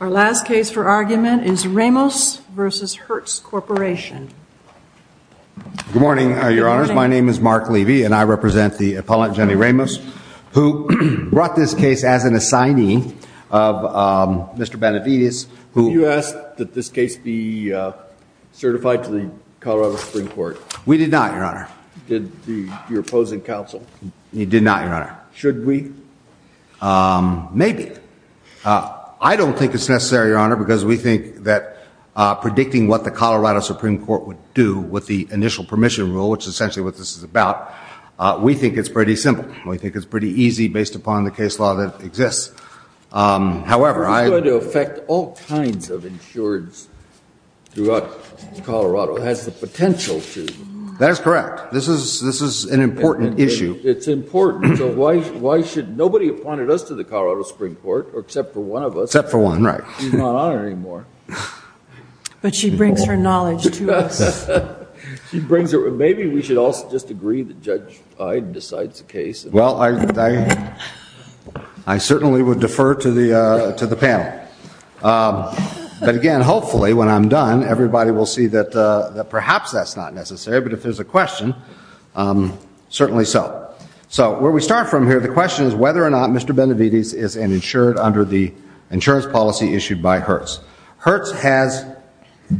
Our last case for argument is Ramos v. Hertz Corporation. Good morning, Your Honors. My name is Mark Levy and I represent the appellant, Jenny Ramos, who brought this case as an assignee of Mr. Benavides. Did you ask that this case be certified to the Colorado Supreme Court? We did not, Your Honor. Did your opposing counsel? He did not, Your Honor. Should we? Maybe. I don't think it's necessary, Your Honor, because we think that predicting what the Colorado Supreme Court would do with the initial permission rule, which is essentially what this is about, we think it's pretty simple. We think it's pretty easy based upon the case law that exists. However, I... This is going to affect all kinds of insureds throughout Colorado. It has the potential to. That's correct. This is an important issue. It's important. So why should... Nobody appointed us to the Colorado Supreme Court, except for one of us. Except for one, right. She's not on it anymore. But she brings her knowledge to us. Maybe we should all just agree that Judge Iden decides the case. Well, I certainly would defer to the panel. But again, hopefully, when I'm done, everybody will see that perhaps that's not necessary, but if there's a question, certainly so. So where we start from here, the question is whether or not Mr. Benavides is an insured under the insurance policy issued by Hertz. Hertz has,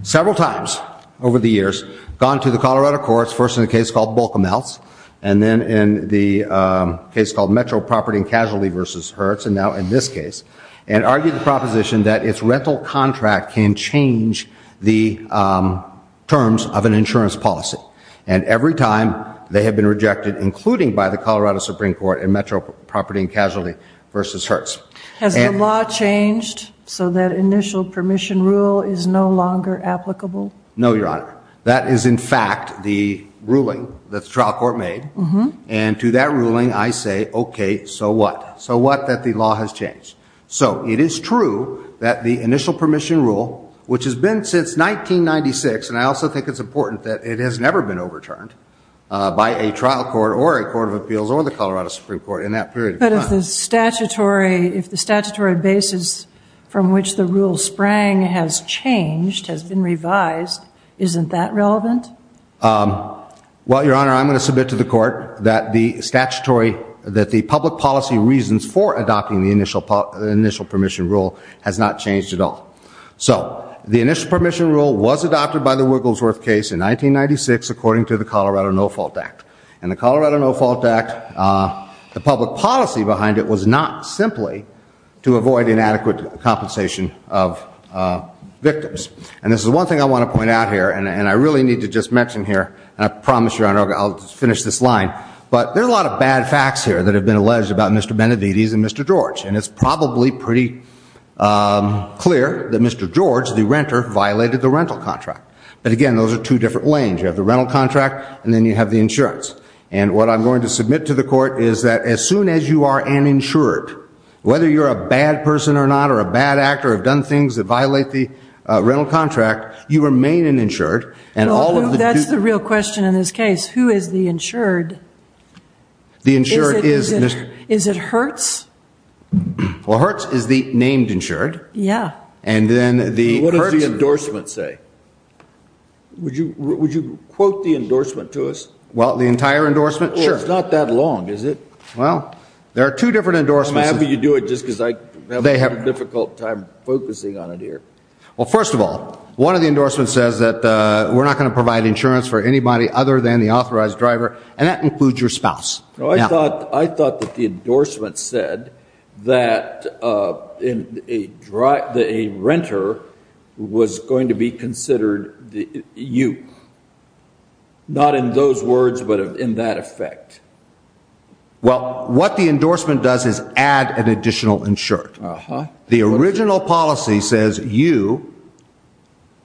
several times over the years, gone to the Colorado courts, first in a case called Bolke-Meltz, and then in the case called Metro Property and Casualty versus Hertz, and now in this case, and argued the proposition that its rental contract can change the terms of an insurance policy. And every time, they have been rejected, including by the Colorado Supreme Court in Metro Property and Casualty versus Hertz. Has the law changed so that initial permission rule is no longer applicable? No, Your Honor. That is, in fact, the ruling that the trial court made. And to that ruling, I say, okay, so what? So what that the law has changed? So it is true that the initial permission rule, which has been since 1996, and I also think it's important that it has never been overturned by a trial court or a court of appeals or the Colorado Supreme Court in that period of time. If the statutory basis from which the rule sprang has changed, has been revised, isn't that relevant? Well, Your Honor, I'm going to submit to the court that the public policy reasons for adopting the initial permission rule has not changed at all. So the initial permission rule was adopted by the Wigglesworth case in 1996 according to the Colorado No Fault Act. And the Colorado No Fault Act, the public policy behind it was not simply to avoid inadequate compensation of victims. And this is one thing I want to point out here, and I really need to just mention here, and I promise, Your Honor, I'll finish this line. But there are a lot of bad facts here that have been alleged about Mr. Benavides and Mr. George. And it's probably pretty clear that Mr. George, the renter, violated the rental contract. But again, those are two different lanes. You have the rental contract, and then you have the insurance. And what I'm going to submit to the court is that as soon as you are an insured, whether you're a bad person or not, or a bad actor, or have done things that violate the rental contract, you remain an insured. And all of the- That's the real question in this case. Who is the insured? The insured is- Is it Hertz? Well, Hertz is the named insured. Yeah. And then the- What does the endorsement say? Would you quote the endorsement to us? Well, the entire endorsement? Sure. Well, it's not that long, is it? Well, there are two different endorsements. I'm happy you do it just because I'm having a difficult time focusing on it here. Well, first of all, one of the endorsements says that we're not going to provide insurance for anybody other than the authorized driver, and that includes your spouse. I thought that the endorsement said that a renter was going to be considered you. Not in those words, but in that effect. Well, what the endorsement does is add an additional insured. The original policy says you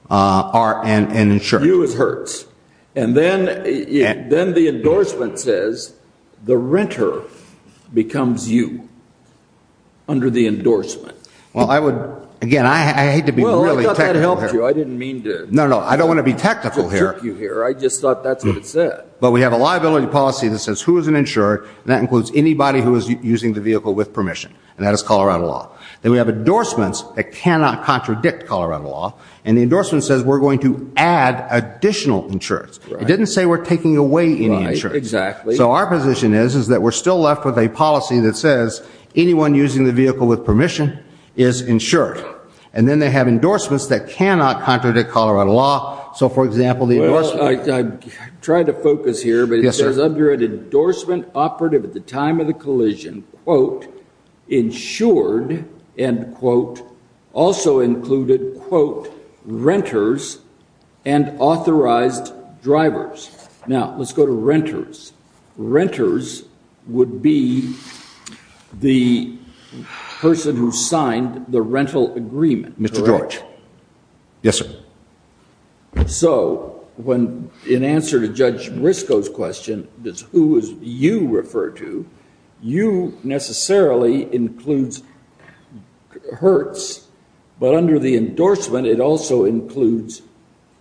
are an insured. You is Hertz. And then the endorsement says the renter becomes you under the endorsement. Well, I would, again, I hate to be really technical here. Well, I thought that helped you. I didn't mean to- No, no. I don't want to be technical here. I didn't mean to jerk you here. I just thought that's what it said. But we have a liability policy that says who is an insured, and that includes anybody who is using the vehicle with permission, and that is Colorado law. Then we have endorsements that cannot contradict Colorado law, and the endorsement says we're going to add additional insurance. It didn't say we're taking away any insurance. Right. Exactly. So our position is that we're still left with a policy that says anyone using the vehicle with permission is insured. And then they have endorsements that cannot contradict Colorado law. So for example, the endorsement- Well, I tried to focus here, but it says under an endorsement operative at the time of the authorized drivers. Now let's go to renters. Renters would be the person who signed the rental agreement. Correct? Mr. George. Yes, sir. So in answer to Judge Briscoe's question, does who is you refer to, you necessarily includes Hertz, but under the endorsement, it also includes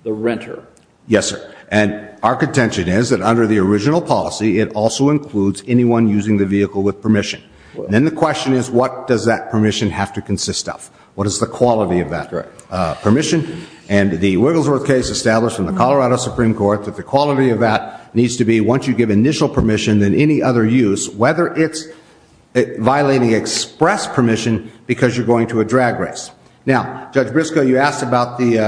the renter. Yes, sir. And our contention is that under the original policy, it also includes anyone using the vehicle with permission. And then the question is, what does that permission have to consist of? What is the quality of that permission? And the Wigglesworth case established in the Colorado Supreme Court, that the quality of that needs to be, once you give initial permission, then any other use, whether it's violating express permission, because you're going to a drag race. Now Judge Briscoe, you asked about the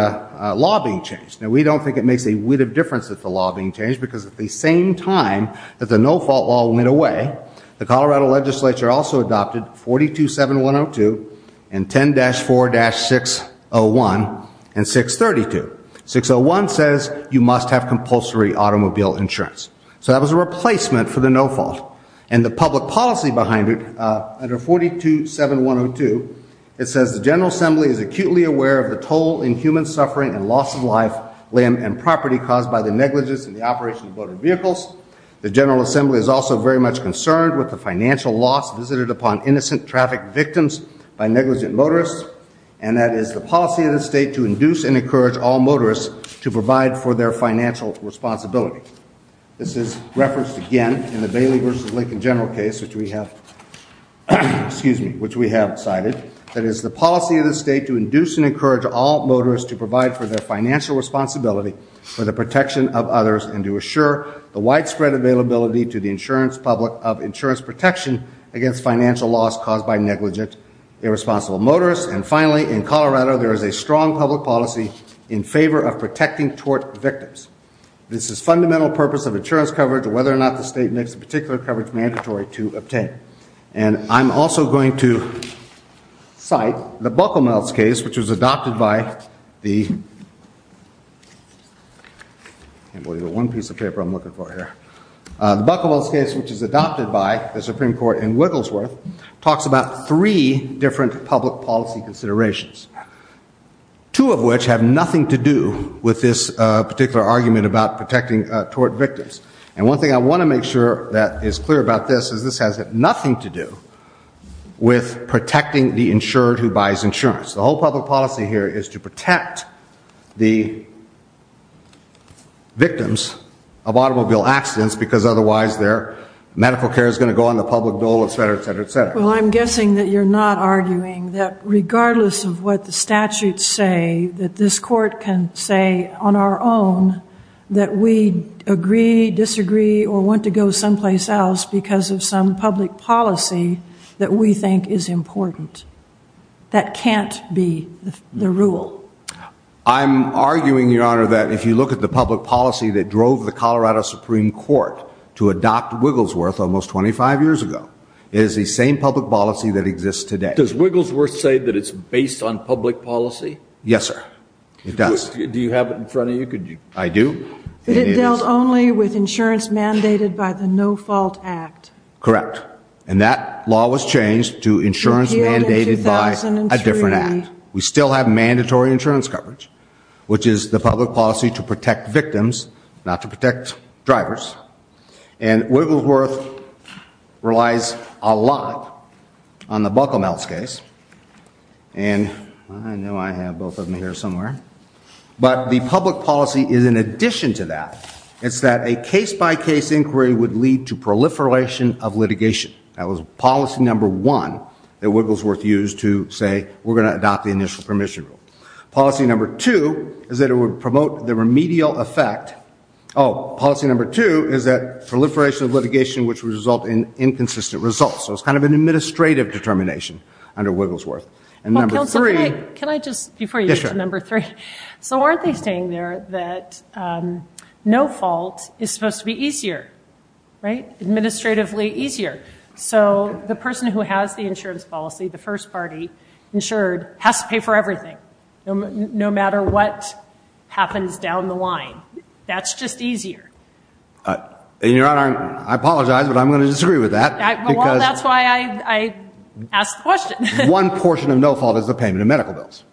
law being changed. Now we don't think it makes a width of difference that the law being changed, because at the same time that the no-fault law went away, the Colorado legislature also adopted 427102 and 10-4-601 and 632. 601 says you must have compulsory automobile insurance. So that was a replacement for the no-fault. And the public policy behind it, under 427102, it says the General Assembly is acutely aware of the toll in human suffering and loss of life, land, and property caused by the negligence in the operation of motor vehicles. The General Assembly is also very much concerned with the financial loss visited upon innocent traffic victims by negligent motorists. And that is the policy of the state to induce and encourage all motorists to provide for their financial responsibility. This is referenced again in the Bailey v. Lincoln general case, which we have cited. That is the policy of the state to induce and encourage all motorists to provide for their financial responsibility for the protection of others and to assure the widespread availability to the insurance public of insurance protection against financial loss caused by negligent, irresponsible motorists. And finally, in Colorado, there is a strong public policy in favor of protecting tort victims. This is fundamental purpose of insurance coverage, whether or not the state makes a particular coverage mandatory to obtain. And I'm also going to cite the Bucklemel's case, which was adopted by the Supreme Court in Wigglesworth, talks about three different public policy considerations, two of which have nothing to do with this particular argument about protecting tort victims. And one thing I want to make sure that is clear about this is this has nothing to do with protecting the insured who buys insurance. The whole public policy here is to protect the victims of automobile accidents because otherwise their medical care is going to go on the public dole, et cetera, et cetera, et cetera. Well, I'm guessing that you're not arguing that regardless of what the statutes say that this court can say on our own that we agree, disagree, or want to go someplace else because of some public policy that we think is important. That can't be the rule. I'm arguing, Your Honor, that if you look at the public policy that drove the Colorado Supreme Court to adopt Wigglesworth almost 25 years ago, it is the same public policy that exists today. Does Wigglesworth say that it's based on public policy? Yes, sir. It does. Do you have it in front of you? I do. But it dealt only with insurance mandated by the No Fault Act. Correct. And that law was changed to insurance mandated by a different act. We still have mandatory insurance coverage, which is the public policy to protect victims, not to protect drivers. And Wigglesworth relies a lot on the Bucklemouth case. And I know I have both of them here somewhere. But the public policy is in addition to that. It's that a case-by-case inquiry would lead to proliferation of litigation. That was policy number one that Wigglesworth used to say, we're going to adopt the initial permission rule. Policy number two is that it would promote the remedial effect. Oh, policy number two is that proliferation of litigation, which would result in inconsistent results. So it's kind of an administrative determination under Wigglesworth. And number three. Well, counsel, can I just, before you get to number three, so aren't they saying there that no fault is supposed to be easier, right? Administratively easier. So the person who has the insurance policy, the first party, insured, has to pay for everything, no matter what happens down the line. That's just easier. And your honor, I apologize, but I'm going to disagree with that. Well, that's why I asked the question. One portion of no fault is the payment of medical bills.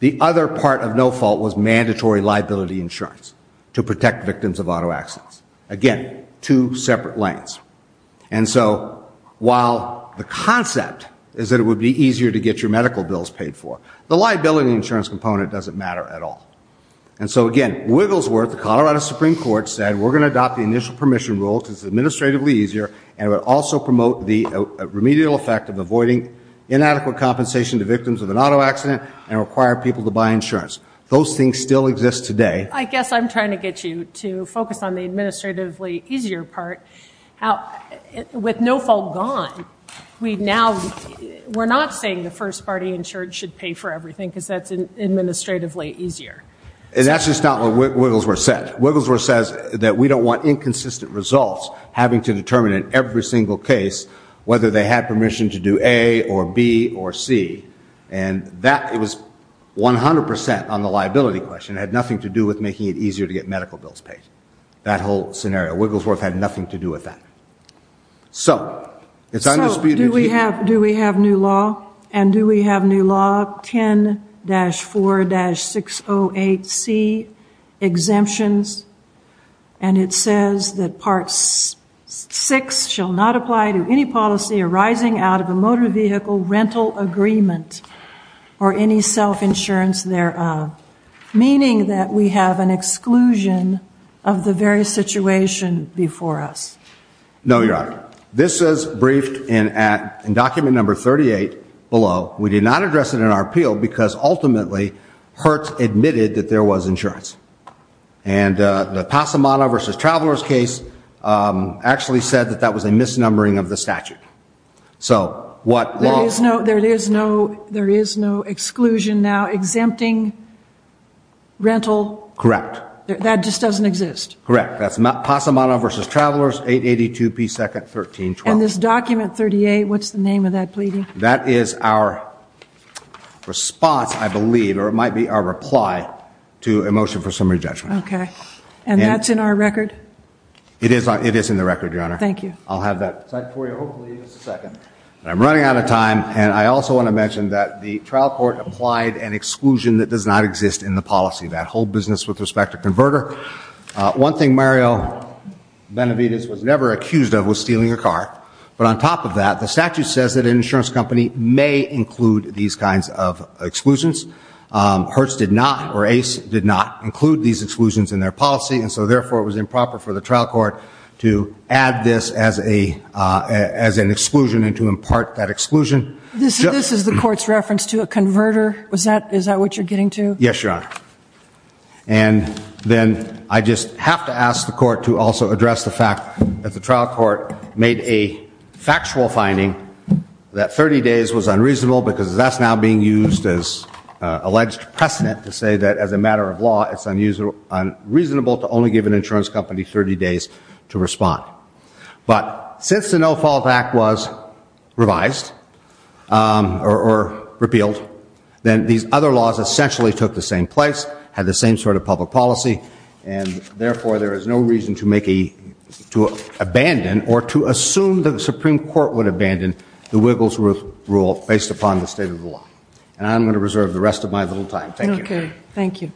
The other part of no fault was mandatory liability insurance to protect victims of auto accidents. Again, two separate lanes. And so while the concept is that it would be easier to get your medical bills paid for, the liability insurance component doesn't matter at all. And so again, Wigglesworth, the Colorado Supreme Court, said we're going to adopt the initial permission rule because it's administratively easier and it would also promote the remedial effect of avoiding inadequate compensation to victims of an auto accident and require people to buy insurance. Those things still exist today. I guess I'm trying to get you to focus on the administratively easier part. With no fault gone, we now, we're not saying the first party insured should pay for everything because that's administratively easier. And that's just not what Wigglesworth said. Wigglesworth says that we don't want inconsistent results having to determine in every single case whether they had permission to do A or B or C. And that, it was 100% on the liability question. It had nothing to do with making it easier to get medical bills paid. That whole scenario. Wigglesworth had nothing to do with that. So it's undisputed. And do we have new law? And do we have new law 10-4-608C exemptions? And it says that part 6 shall not apply to any policy arising out of a motor vehicle rental agreement or any self-insurance thereof. Meaning that we have an exclusion of the very situation before us. No, Your Honor. This is briefed in document number 38 below. We did not address it in our appeal because ultimately Hertz admitted that there was insurance. And the Passamano v. Travelers case actually said that that was a misnumbering of the statute. So what law? There is no exclusion now exempting rental. Correct. That just doesn't exist. Correct. That's Passamano v. Travelers, 882p2-1312. And this document 38, what's the name of that pleading? That is our response, I believe, or it might be our reply to a motion for summary judgment. Okay. And that's in our record? It is in the record, Your Honor. Thank you. I'll have that signed for you. Hopefully in just a second. I'm running out of time. And I also want to mention that the trial court applied an exclusion that does not exist in the policy. That whole business with respect to converter. One thing Mario Benavides was never accused of was stealing a car. But on top of that, the statute says that an insurance company may include these kinds of exclusions. Hertz did not, or Ace did not, include these exclusions in their policy. And so therefore it was improper for the trial court to add this as an exclusion and to impart that exclusion. This is the court's reference to a converter? Is that what you're getting to? Yes, Your Honor. And then I just have to ask the court to also address the fact that the trial court made a factual finding that 30 days was unreasonable because that's now being used as alleged precedent to say that as a matter of law, it's unreasonable to only give an insurance company 30 days to respond. But since the No-Fault Act was revised, or repealed, then these other laws essentially took the same place, had the same sort of public policy, and therefore there is no reason to abandon or to assume that the Supreme Court would abandon the Wigglesworth rule based upon the state of the law. And I'm going to reserve the rest of my little time. Thank you. Okay. Thank you.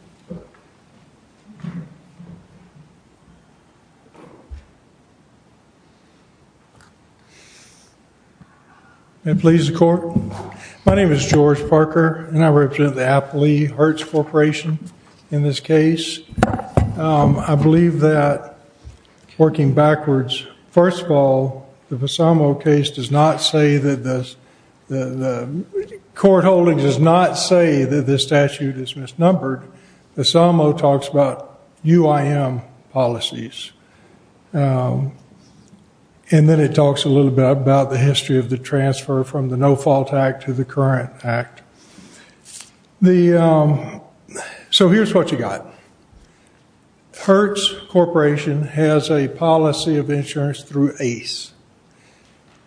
May it please the Court? My name is George Parker, and I represent the Appley-Hertz Corporation in this case. I believe that, working backwards, first of all, the Bassamo case does not say that the court holdings does not say that this statute is misnumbered. Bassamo talks about UIM policies, and then it talks a little bit about the history of the transfer from the No-Fault Act to the current act. So here's what you got. Hertz Corporation has a policy of insurance through ACE.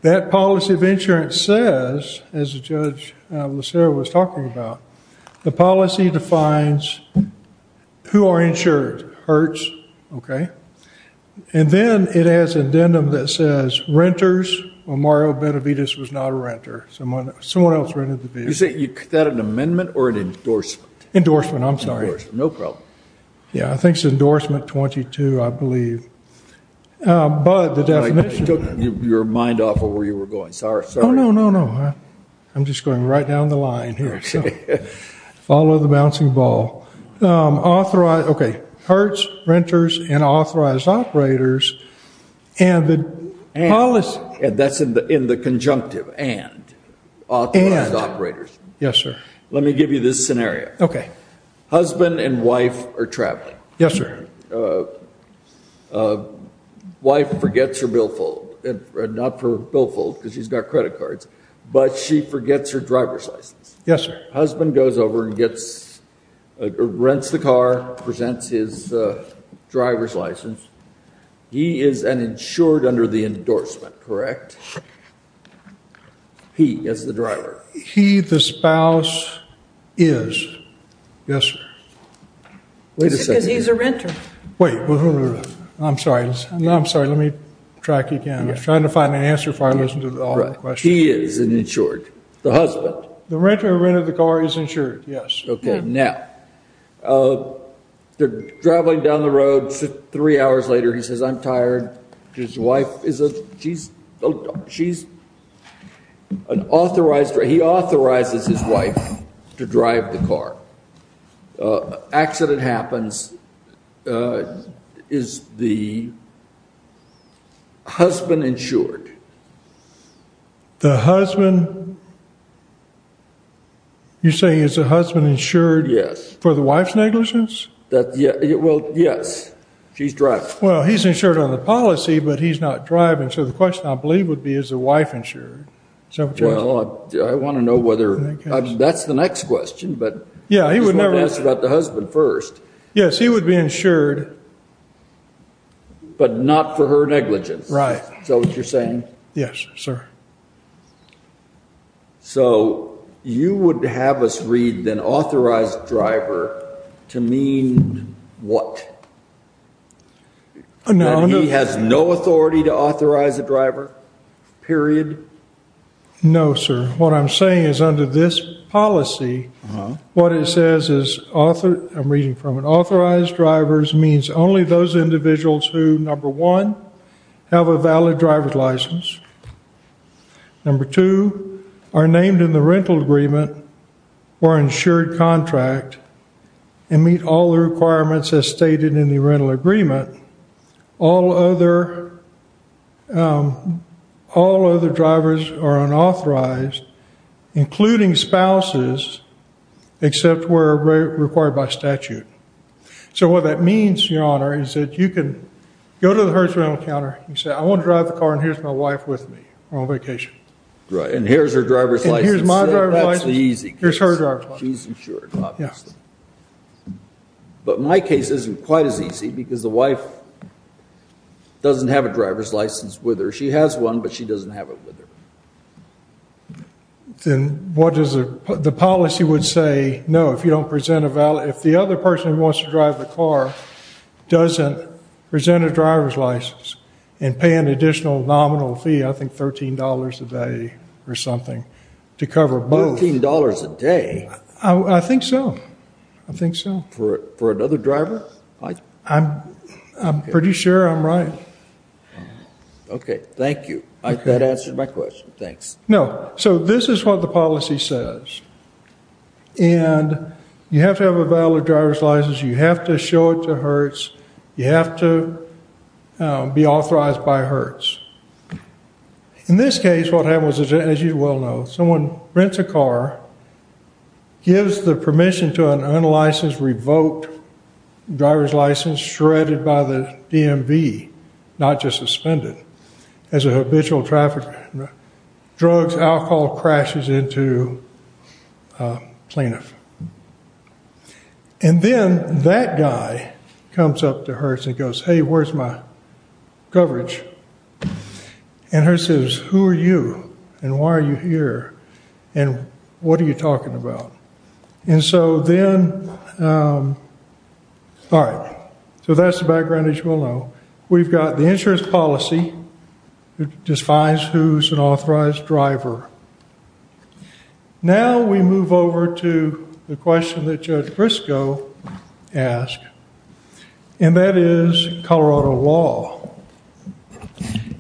That policy of insurance says, as Judge Lucero was talking about, the policy defines who are insured, Hertz, okay? And then it has an addendum that says renters, well, Mario Benavides was not a renter. Someone else rented the building. Is that an amendment or an endorsement? Endorsement, I'm sorry. Endorsement, no problem. Yeah, I think it's endorsement 22, I believe. But the definition... I took your mind off of where you were going. Sorry, sorry. Oh, no, no, no. I'm just going right down the line here, so follow the bouncing ball. Okay, Hertz, renters, and authorized operators, and the policy... That's in the conjunctive, and. Authorized operators. And. Yes, sir. Let me give you this scenario. Okay. Husband and wife are traveling. Yes, sir. Wife forgets her billfold, not her billfold, because she's got credit cards, but she forgets her driver's license. Yes, sir. Husband goes over and rents the car, presents his driver's license. He is an insured under the endorsement, correct? He is the driver. He, the spouse, is. Yes, sir. Wait a second here. Is it because he's a renter? Wait. I'm sorry. I'm sorry. Let me track again. He is an insured. The husband. The renter of the car is insured, yes. Okay. Now, they're traveling down the road, three hours later, he says, I'm tired. His wife is, she's an authorized, he authorizes his wife to drive the car. Accident happens. Is the husband insured? The husband, you're saying is the husband insured for the wife's negligence? Well, yes. She's driving. Well, he's insured on the policy, but he's not driving, so the question, I believe, would be, is the wife insured? Well, I want to know whether, that's the next question, but I just want to ask about the husband first. Yes, he would be insured. But not for her negligence. Right. Is that what you're saying? Yes, sir. So you would have us read an authorized driver to mean what? That he has no authority to authorize a driver, period? No, sir. What I'm saying is under this policy, what it says is author, I'm reading from it, authorized drivers means only those individuals who, number one, have a valid driver's license. Number two, are named in the rental agreement or insured contract and meet all the requirements as stated in the rental agreement. All other drivers are unauthorized, including spouses, except where required by statute. So what that means, Your Honor, is that you can go to the hers rental counter and say, I want to drive the car and here's my wife with me on vacation. Right. And here's her driver's license. And here's my driver's license. That's the easy case. Here's her driver's license. She's insured, obviously. Yes. But my case isn't quite as easy because the wife doesn't have a driver's license with her. She has one, but she doesn't have it with her. Then what does the policy would say? No, if you don't present a valid. If the other person who wants to drive the car doesn't present a driver's license and pay an additional nominal fee, I think $13 a day or something to cover both. $13 a day? I think so. I think so. For another driver? I'm pretty sure I'm right. Okay. Thank you. That answers my question. Thanks. No. So this is what the policy says. And you have to have a valid driver's license. You have to show it to Hertz. You have to be authorized by Hertz. In this case, what happened was, as you well know, someone rents a car, gives the permission to an unlicensed revoked driver's license shredded by the DMV, not just suspended as a habitual trafficker, drugs, alcohol crashes into a plaintiff. And then that guy comes up to Hertz and goes, hey, where's my coverage? And Hertz says, who are you and why are you here and what are you talking about? And so then, all right, so that's the background, as you well know. We've got the insurance policy that defines who's an authorized driver. Now we move over to the question that Judge Briscoe asked, and that is Colorado law.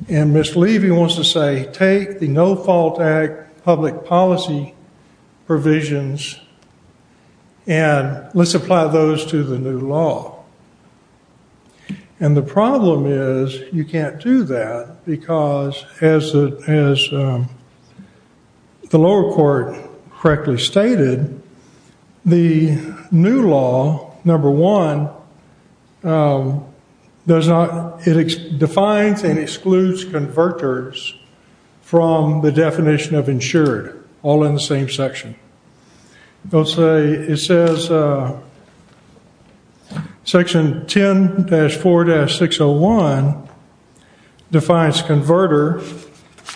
And Ms. Levy wants to say, take the No Fault Act public policy provisions and let's apply those to the new law. And the problem is you can't do that because, as the lower court correctly stated, the new law, number one, it defines and excludes converters from the definition of insured, all in the same section. It says section 10-4-601 defines converter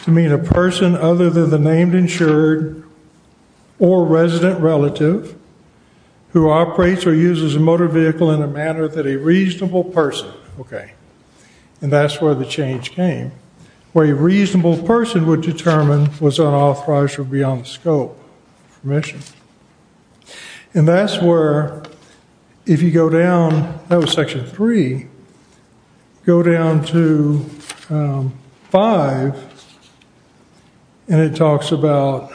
to mean a person other than the named insured or resident relative who operates or uses a motor vehicle in a manner that a reasonable person, okay, and that's where the change came, where a reasonable person would determine that a person was unauthorized or beyond the scope of permission. And that's where, if you go down, that was section three, go down to five and it talks about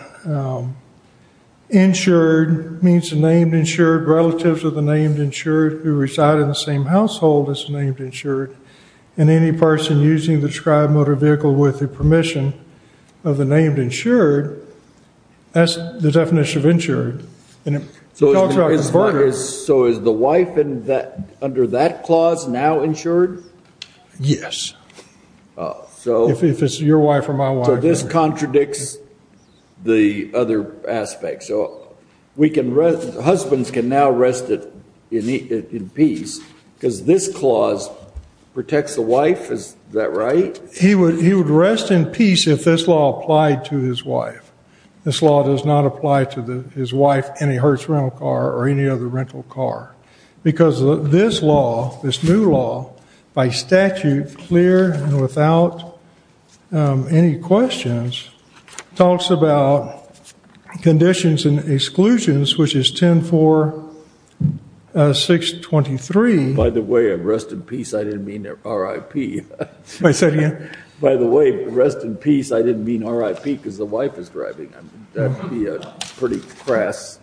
insured means the named insured, relatives of the named insured who reside in the same household as the named insured, and any person using the described motor vehicle with the named insured, that's the definition of insured, and it talks about converters. So is the wife under that clause now insured? Yes, if it's your wife or my wife. So this contradicts the other aspects, so husbands can now rest in peace because this clause protects the wife, is that right? He would rest in peace if this law applied to his wife. This law does not apply to his wife, any Hertz rental car or any other rental car, because this law, this new law, by statute, clear and without any questions, talks about conditions and exclusions, which is 10-4-623. By the way, rest in peace, I didn't mean RIP. May I say it again? By the way, rest in peace, I didn't mean RIP because the wife is driving. That would be a pretty crass,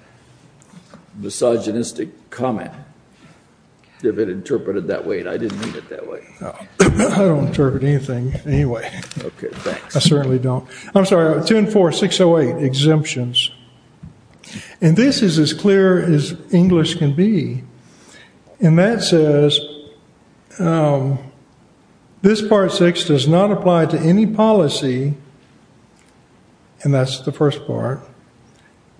misogynistic comment if it interpreted that way, and I didn't mean it that way. I don't interpret anything anyway. Okay, thanks. I certainly don't. I'm sorry, 10-4-608, exemptions, and this is as clear as English can be, and that says, this Part 6 does not apply to any policy, and that's the first part,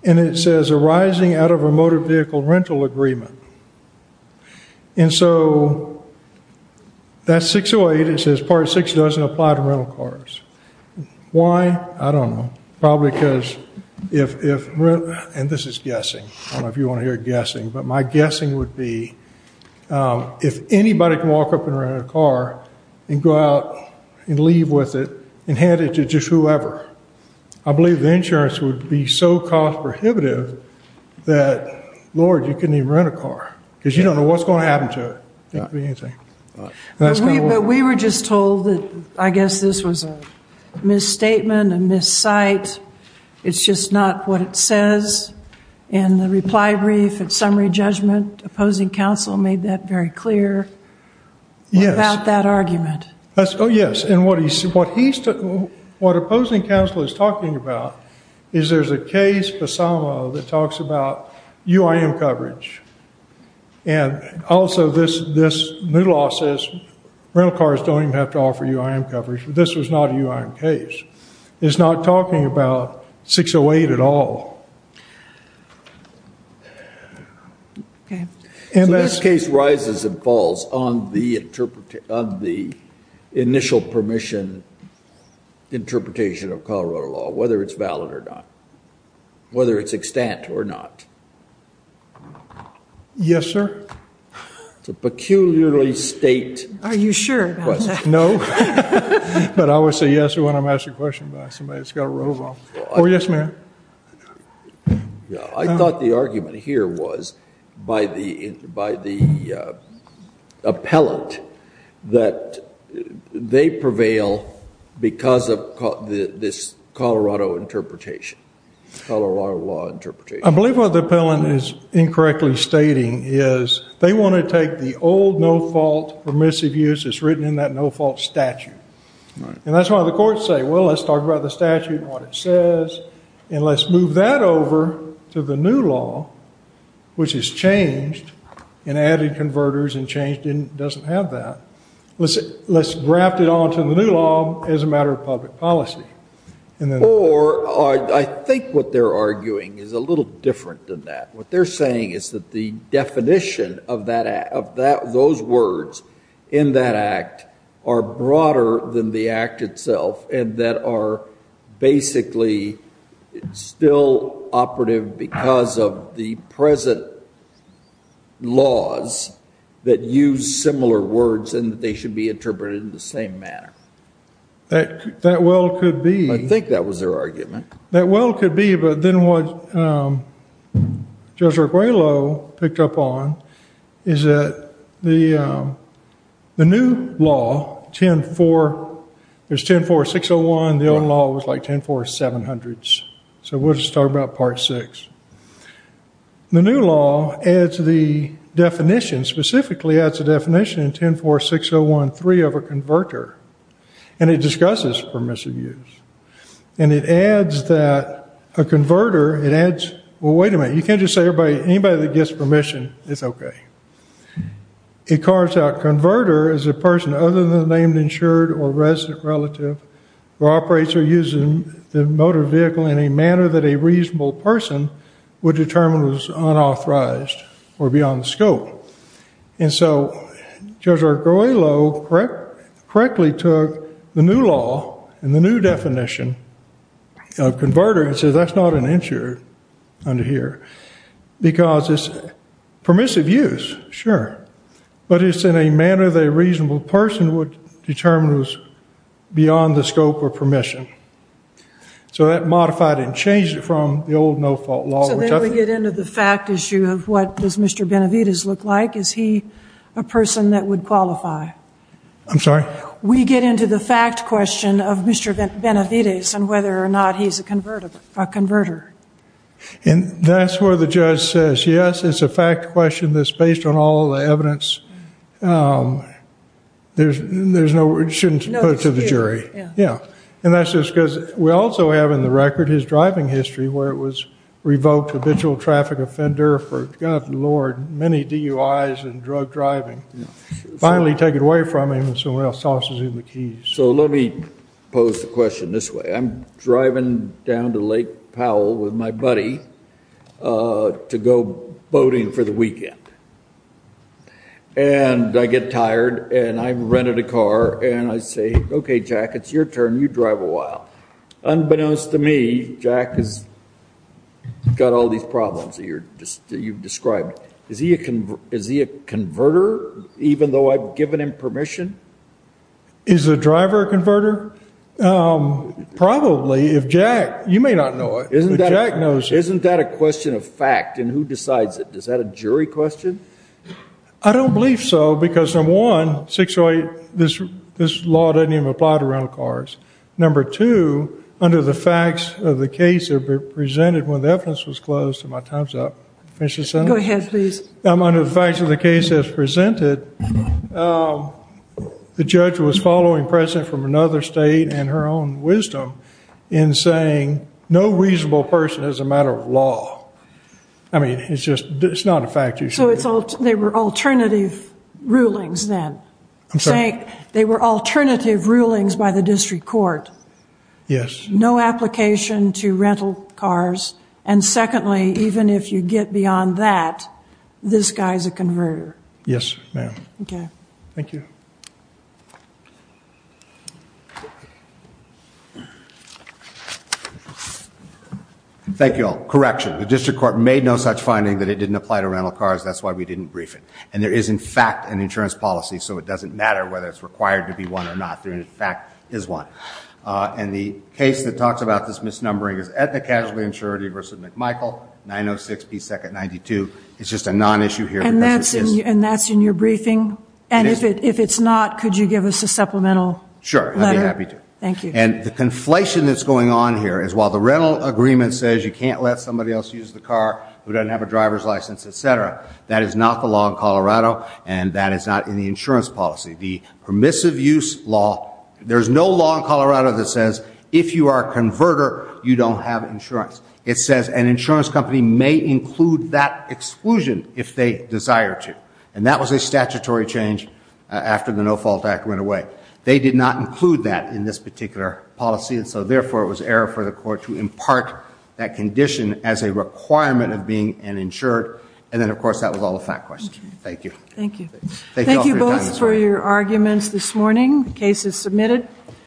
and it says arising out of a motor vehicle rental agreement, and so that 608, it says Part 6 doesn't apply to rental cars. Why? I don't know. Probably because if, and this is guessing, I don't know if you want to hear guessing, but my guessing would be if anybody can walk up and rent a car and go out and leave with it and hand it to just whoever, I believe the insurance would be so cost prohibitive that, Lord, you couldn't even rent a car because you don't know what's going to happen to it. It could be anything. But we were just told that I guess this was a misstatement, a missight, it's just not what it says in the reply brief and summary judgment. Opposing counsel made that very clear about that argument. Yes, and what he's, what opposing counsel is talking about is there's a case, PASAMA, that talks about UIM coverage, and also this new law says rental cars don't even have to offer UIM coverage, but this was not a UIM case. It's not talking about 608 at all. Okay. So this case rises and falls on the initial permission interpretation of Colorado law, whether it's valid or not, whether it's extant or not. Yes, sir. It's a peculiarly state question. Are you sure about that? No, but I would say yes when I'm asked a question by somebody that's got a robe on. Oh, yes, ma'am. I thought the argument here was by the appellant that they prevail because of this Colorado interpretation, Colorado law interpretation. I believe what the appellant is incorrectly stating is they want to take the old no-fault permissive use that's written in that no-fault statute, and that's why the courts say, well, let's talk about the statute and what it says, and let's move that over to the new law, which has changed and added converters and changed and doesn't have that. Let's graft it onto the new law as a matter of public policy. Or I think what they're arguing is a little different than that. What they're saying is that the definition of those words in that act are broader than the act itself and that are basically still operative because of the present laws that use similar words and that they should be interpreted in the same manner. That well could be. I think that was their argument. That well could be. But then what Judge Arguello picked up on is that the new law, 10-4, there's 10-4-601, the old law was like 10-4-700s. So we'll just talk about part six. The new law adds the definition, specifically adds the definition in 10-4-601-3 of a converter, and it discusses permissive use. And it adds that a converter, it adds, well, wait a minute. You can't just say anybody that gets permission is OK. It carves out converter as a person other than a named, insured, or resident relative who operates or uses the motor vehicle in a manner that a reasonable person would determine was unauthorized or beyond scope. And so Judge Arguello correctly took the new law and the new definition of converter and said that's not an insurer under here because it's permissive use, sure, but it's in a manner that a reasonable person would determine was beyond the scope of permission. So that modified and changed it from the old no-fault law. So then we get into the fact issue of what does Mr. Benavides look like? Is he a person that would qualify? I'm sorry? We get into the fact question of Mr. Benavides and whether or not he's a converter. And that's where the judge says, yes, it's a fact question that's based on all the evidence. There's no, it shouldn't be put to the jury. Yeah. And that's just because we also have in the record his driving history where it was revoked habitual traffic offender for, God, Lord, many DUIs and drug driving. Finally, take it away from him and someone else tosses him the keys. So let me pose the question this way. I'm driving down to Lake Powell with my buddy to go boating for the weekend. And I get tired and I rented a car and I say, okay, Jack, it's your turn. You drive a while. Unbeknownst to me, Jack has got all these problems that you've described. Is he a converter, even though I've given him permission? Is the driver a converter? Probably. If Jack, you may not know it, but Jack knows it. Isn't that a question of fact and who decides it? Is that a jury question? I don't believe so. Because number one, this law doesn't even apply to rental cars. Number two, under the facts of the case presented when the evidence was closed, and my time's up, finish your sentence. Go ahead, please. Under the facts of the case as presented, the judge was following precedent from another state and her own wisdom in saying no reasonable person is a matter of law. I mean, it's just, it's not a fact. So they were alternative rulings then? I'm sorry? They were alternative rulings by the district court. Yes. No application to rental cars. And secondly, even if you get beyond that, this guy's a converter. Yes, ma'am. Okay. Thank you. Thank you all. Correction. The district court made no such finding that it didn't apply to rental cars. That's why we didn't brief it. And there is, in fact, an insurance policy. So it doesn't matter whether it's required to be one or not. There, in fact, is one. And the case that talks about this misnumbering is Aetna Casualty Insurance v. McMichael, 906 P. 2nd 92. It's just a non-issue here. And that's in your briefing? And if it's not, could you give us a supplemental letter? Sure, I'd be happy to. Thank you. And the conflation that's going on here is while the rental agreement says you can't let somebody else use the car who doesn't have a driver's license, et cetera, that is not the law in Colorado. And that is not in the insurance policy. The permissive use law, there's no law in Colorado that says if you are a converter, you don't have insurance. It says an insurance company may include that exclusion if they desire to. And that was a statutory change after the No Fault Act went away. They did not include that in this particular policy. And so, therefore, it was error for the court to impart that condition as a requirement of being an insured. And then, of course, that was all a fact question. Thank you. Thank you. Thank you both for your arguments this morning. The case is submitted.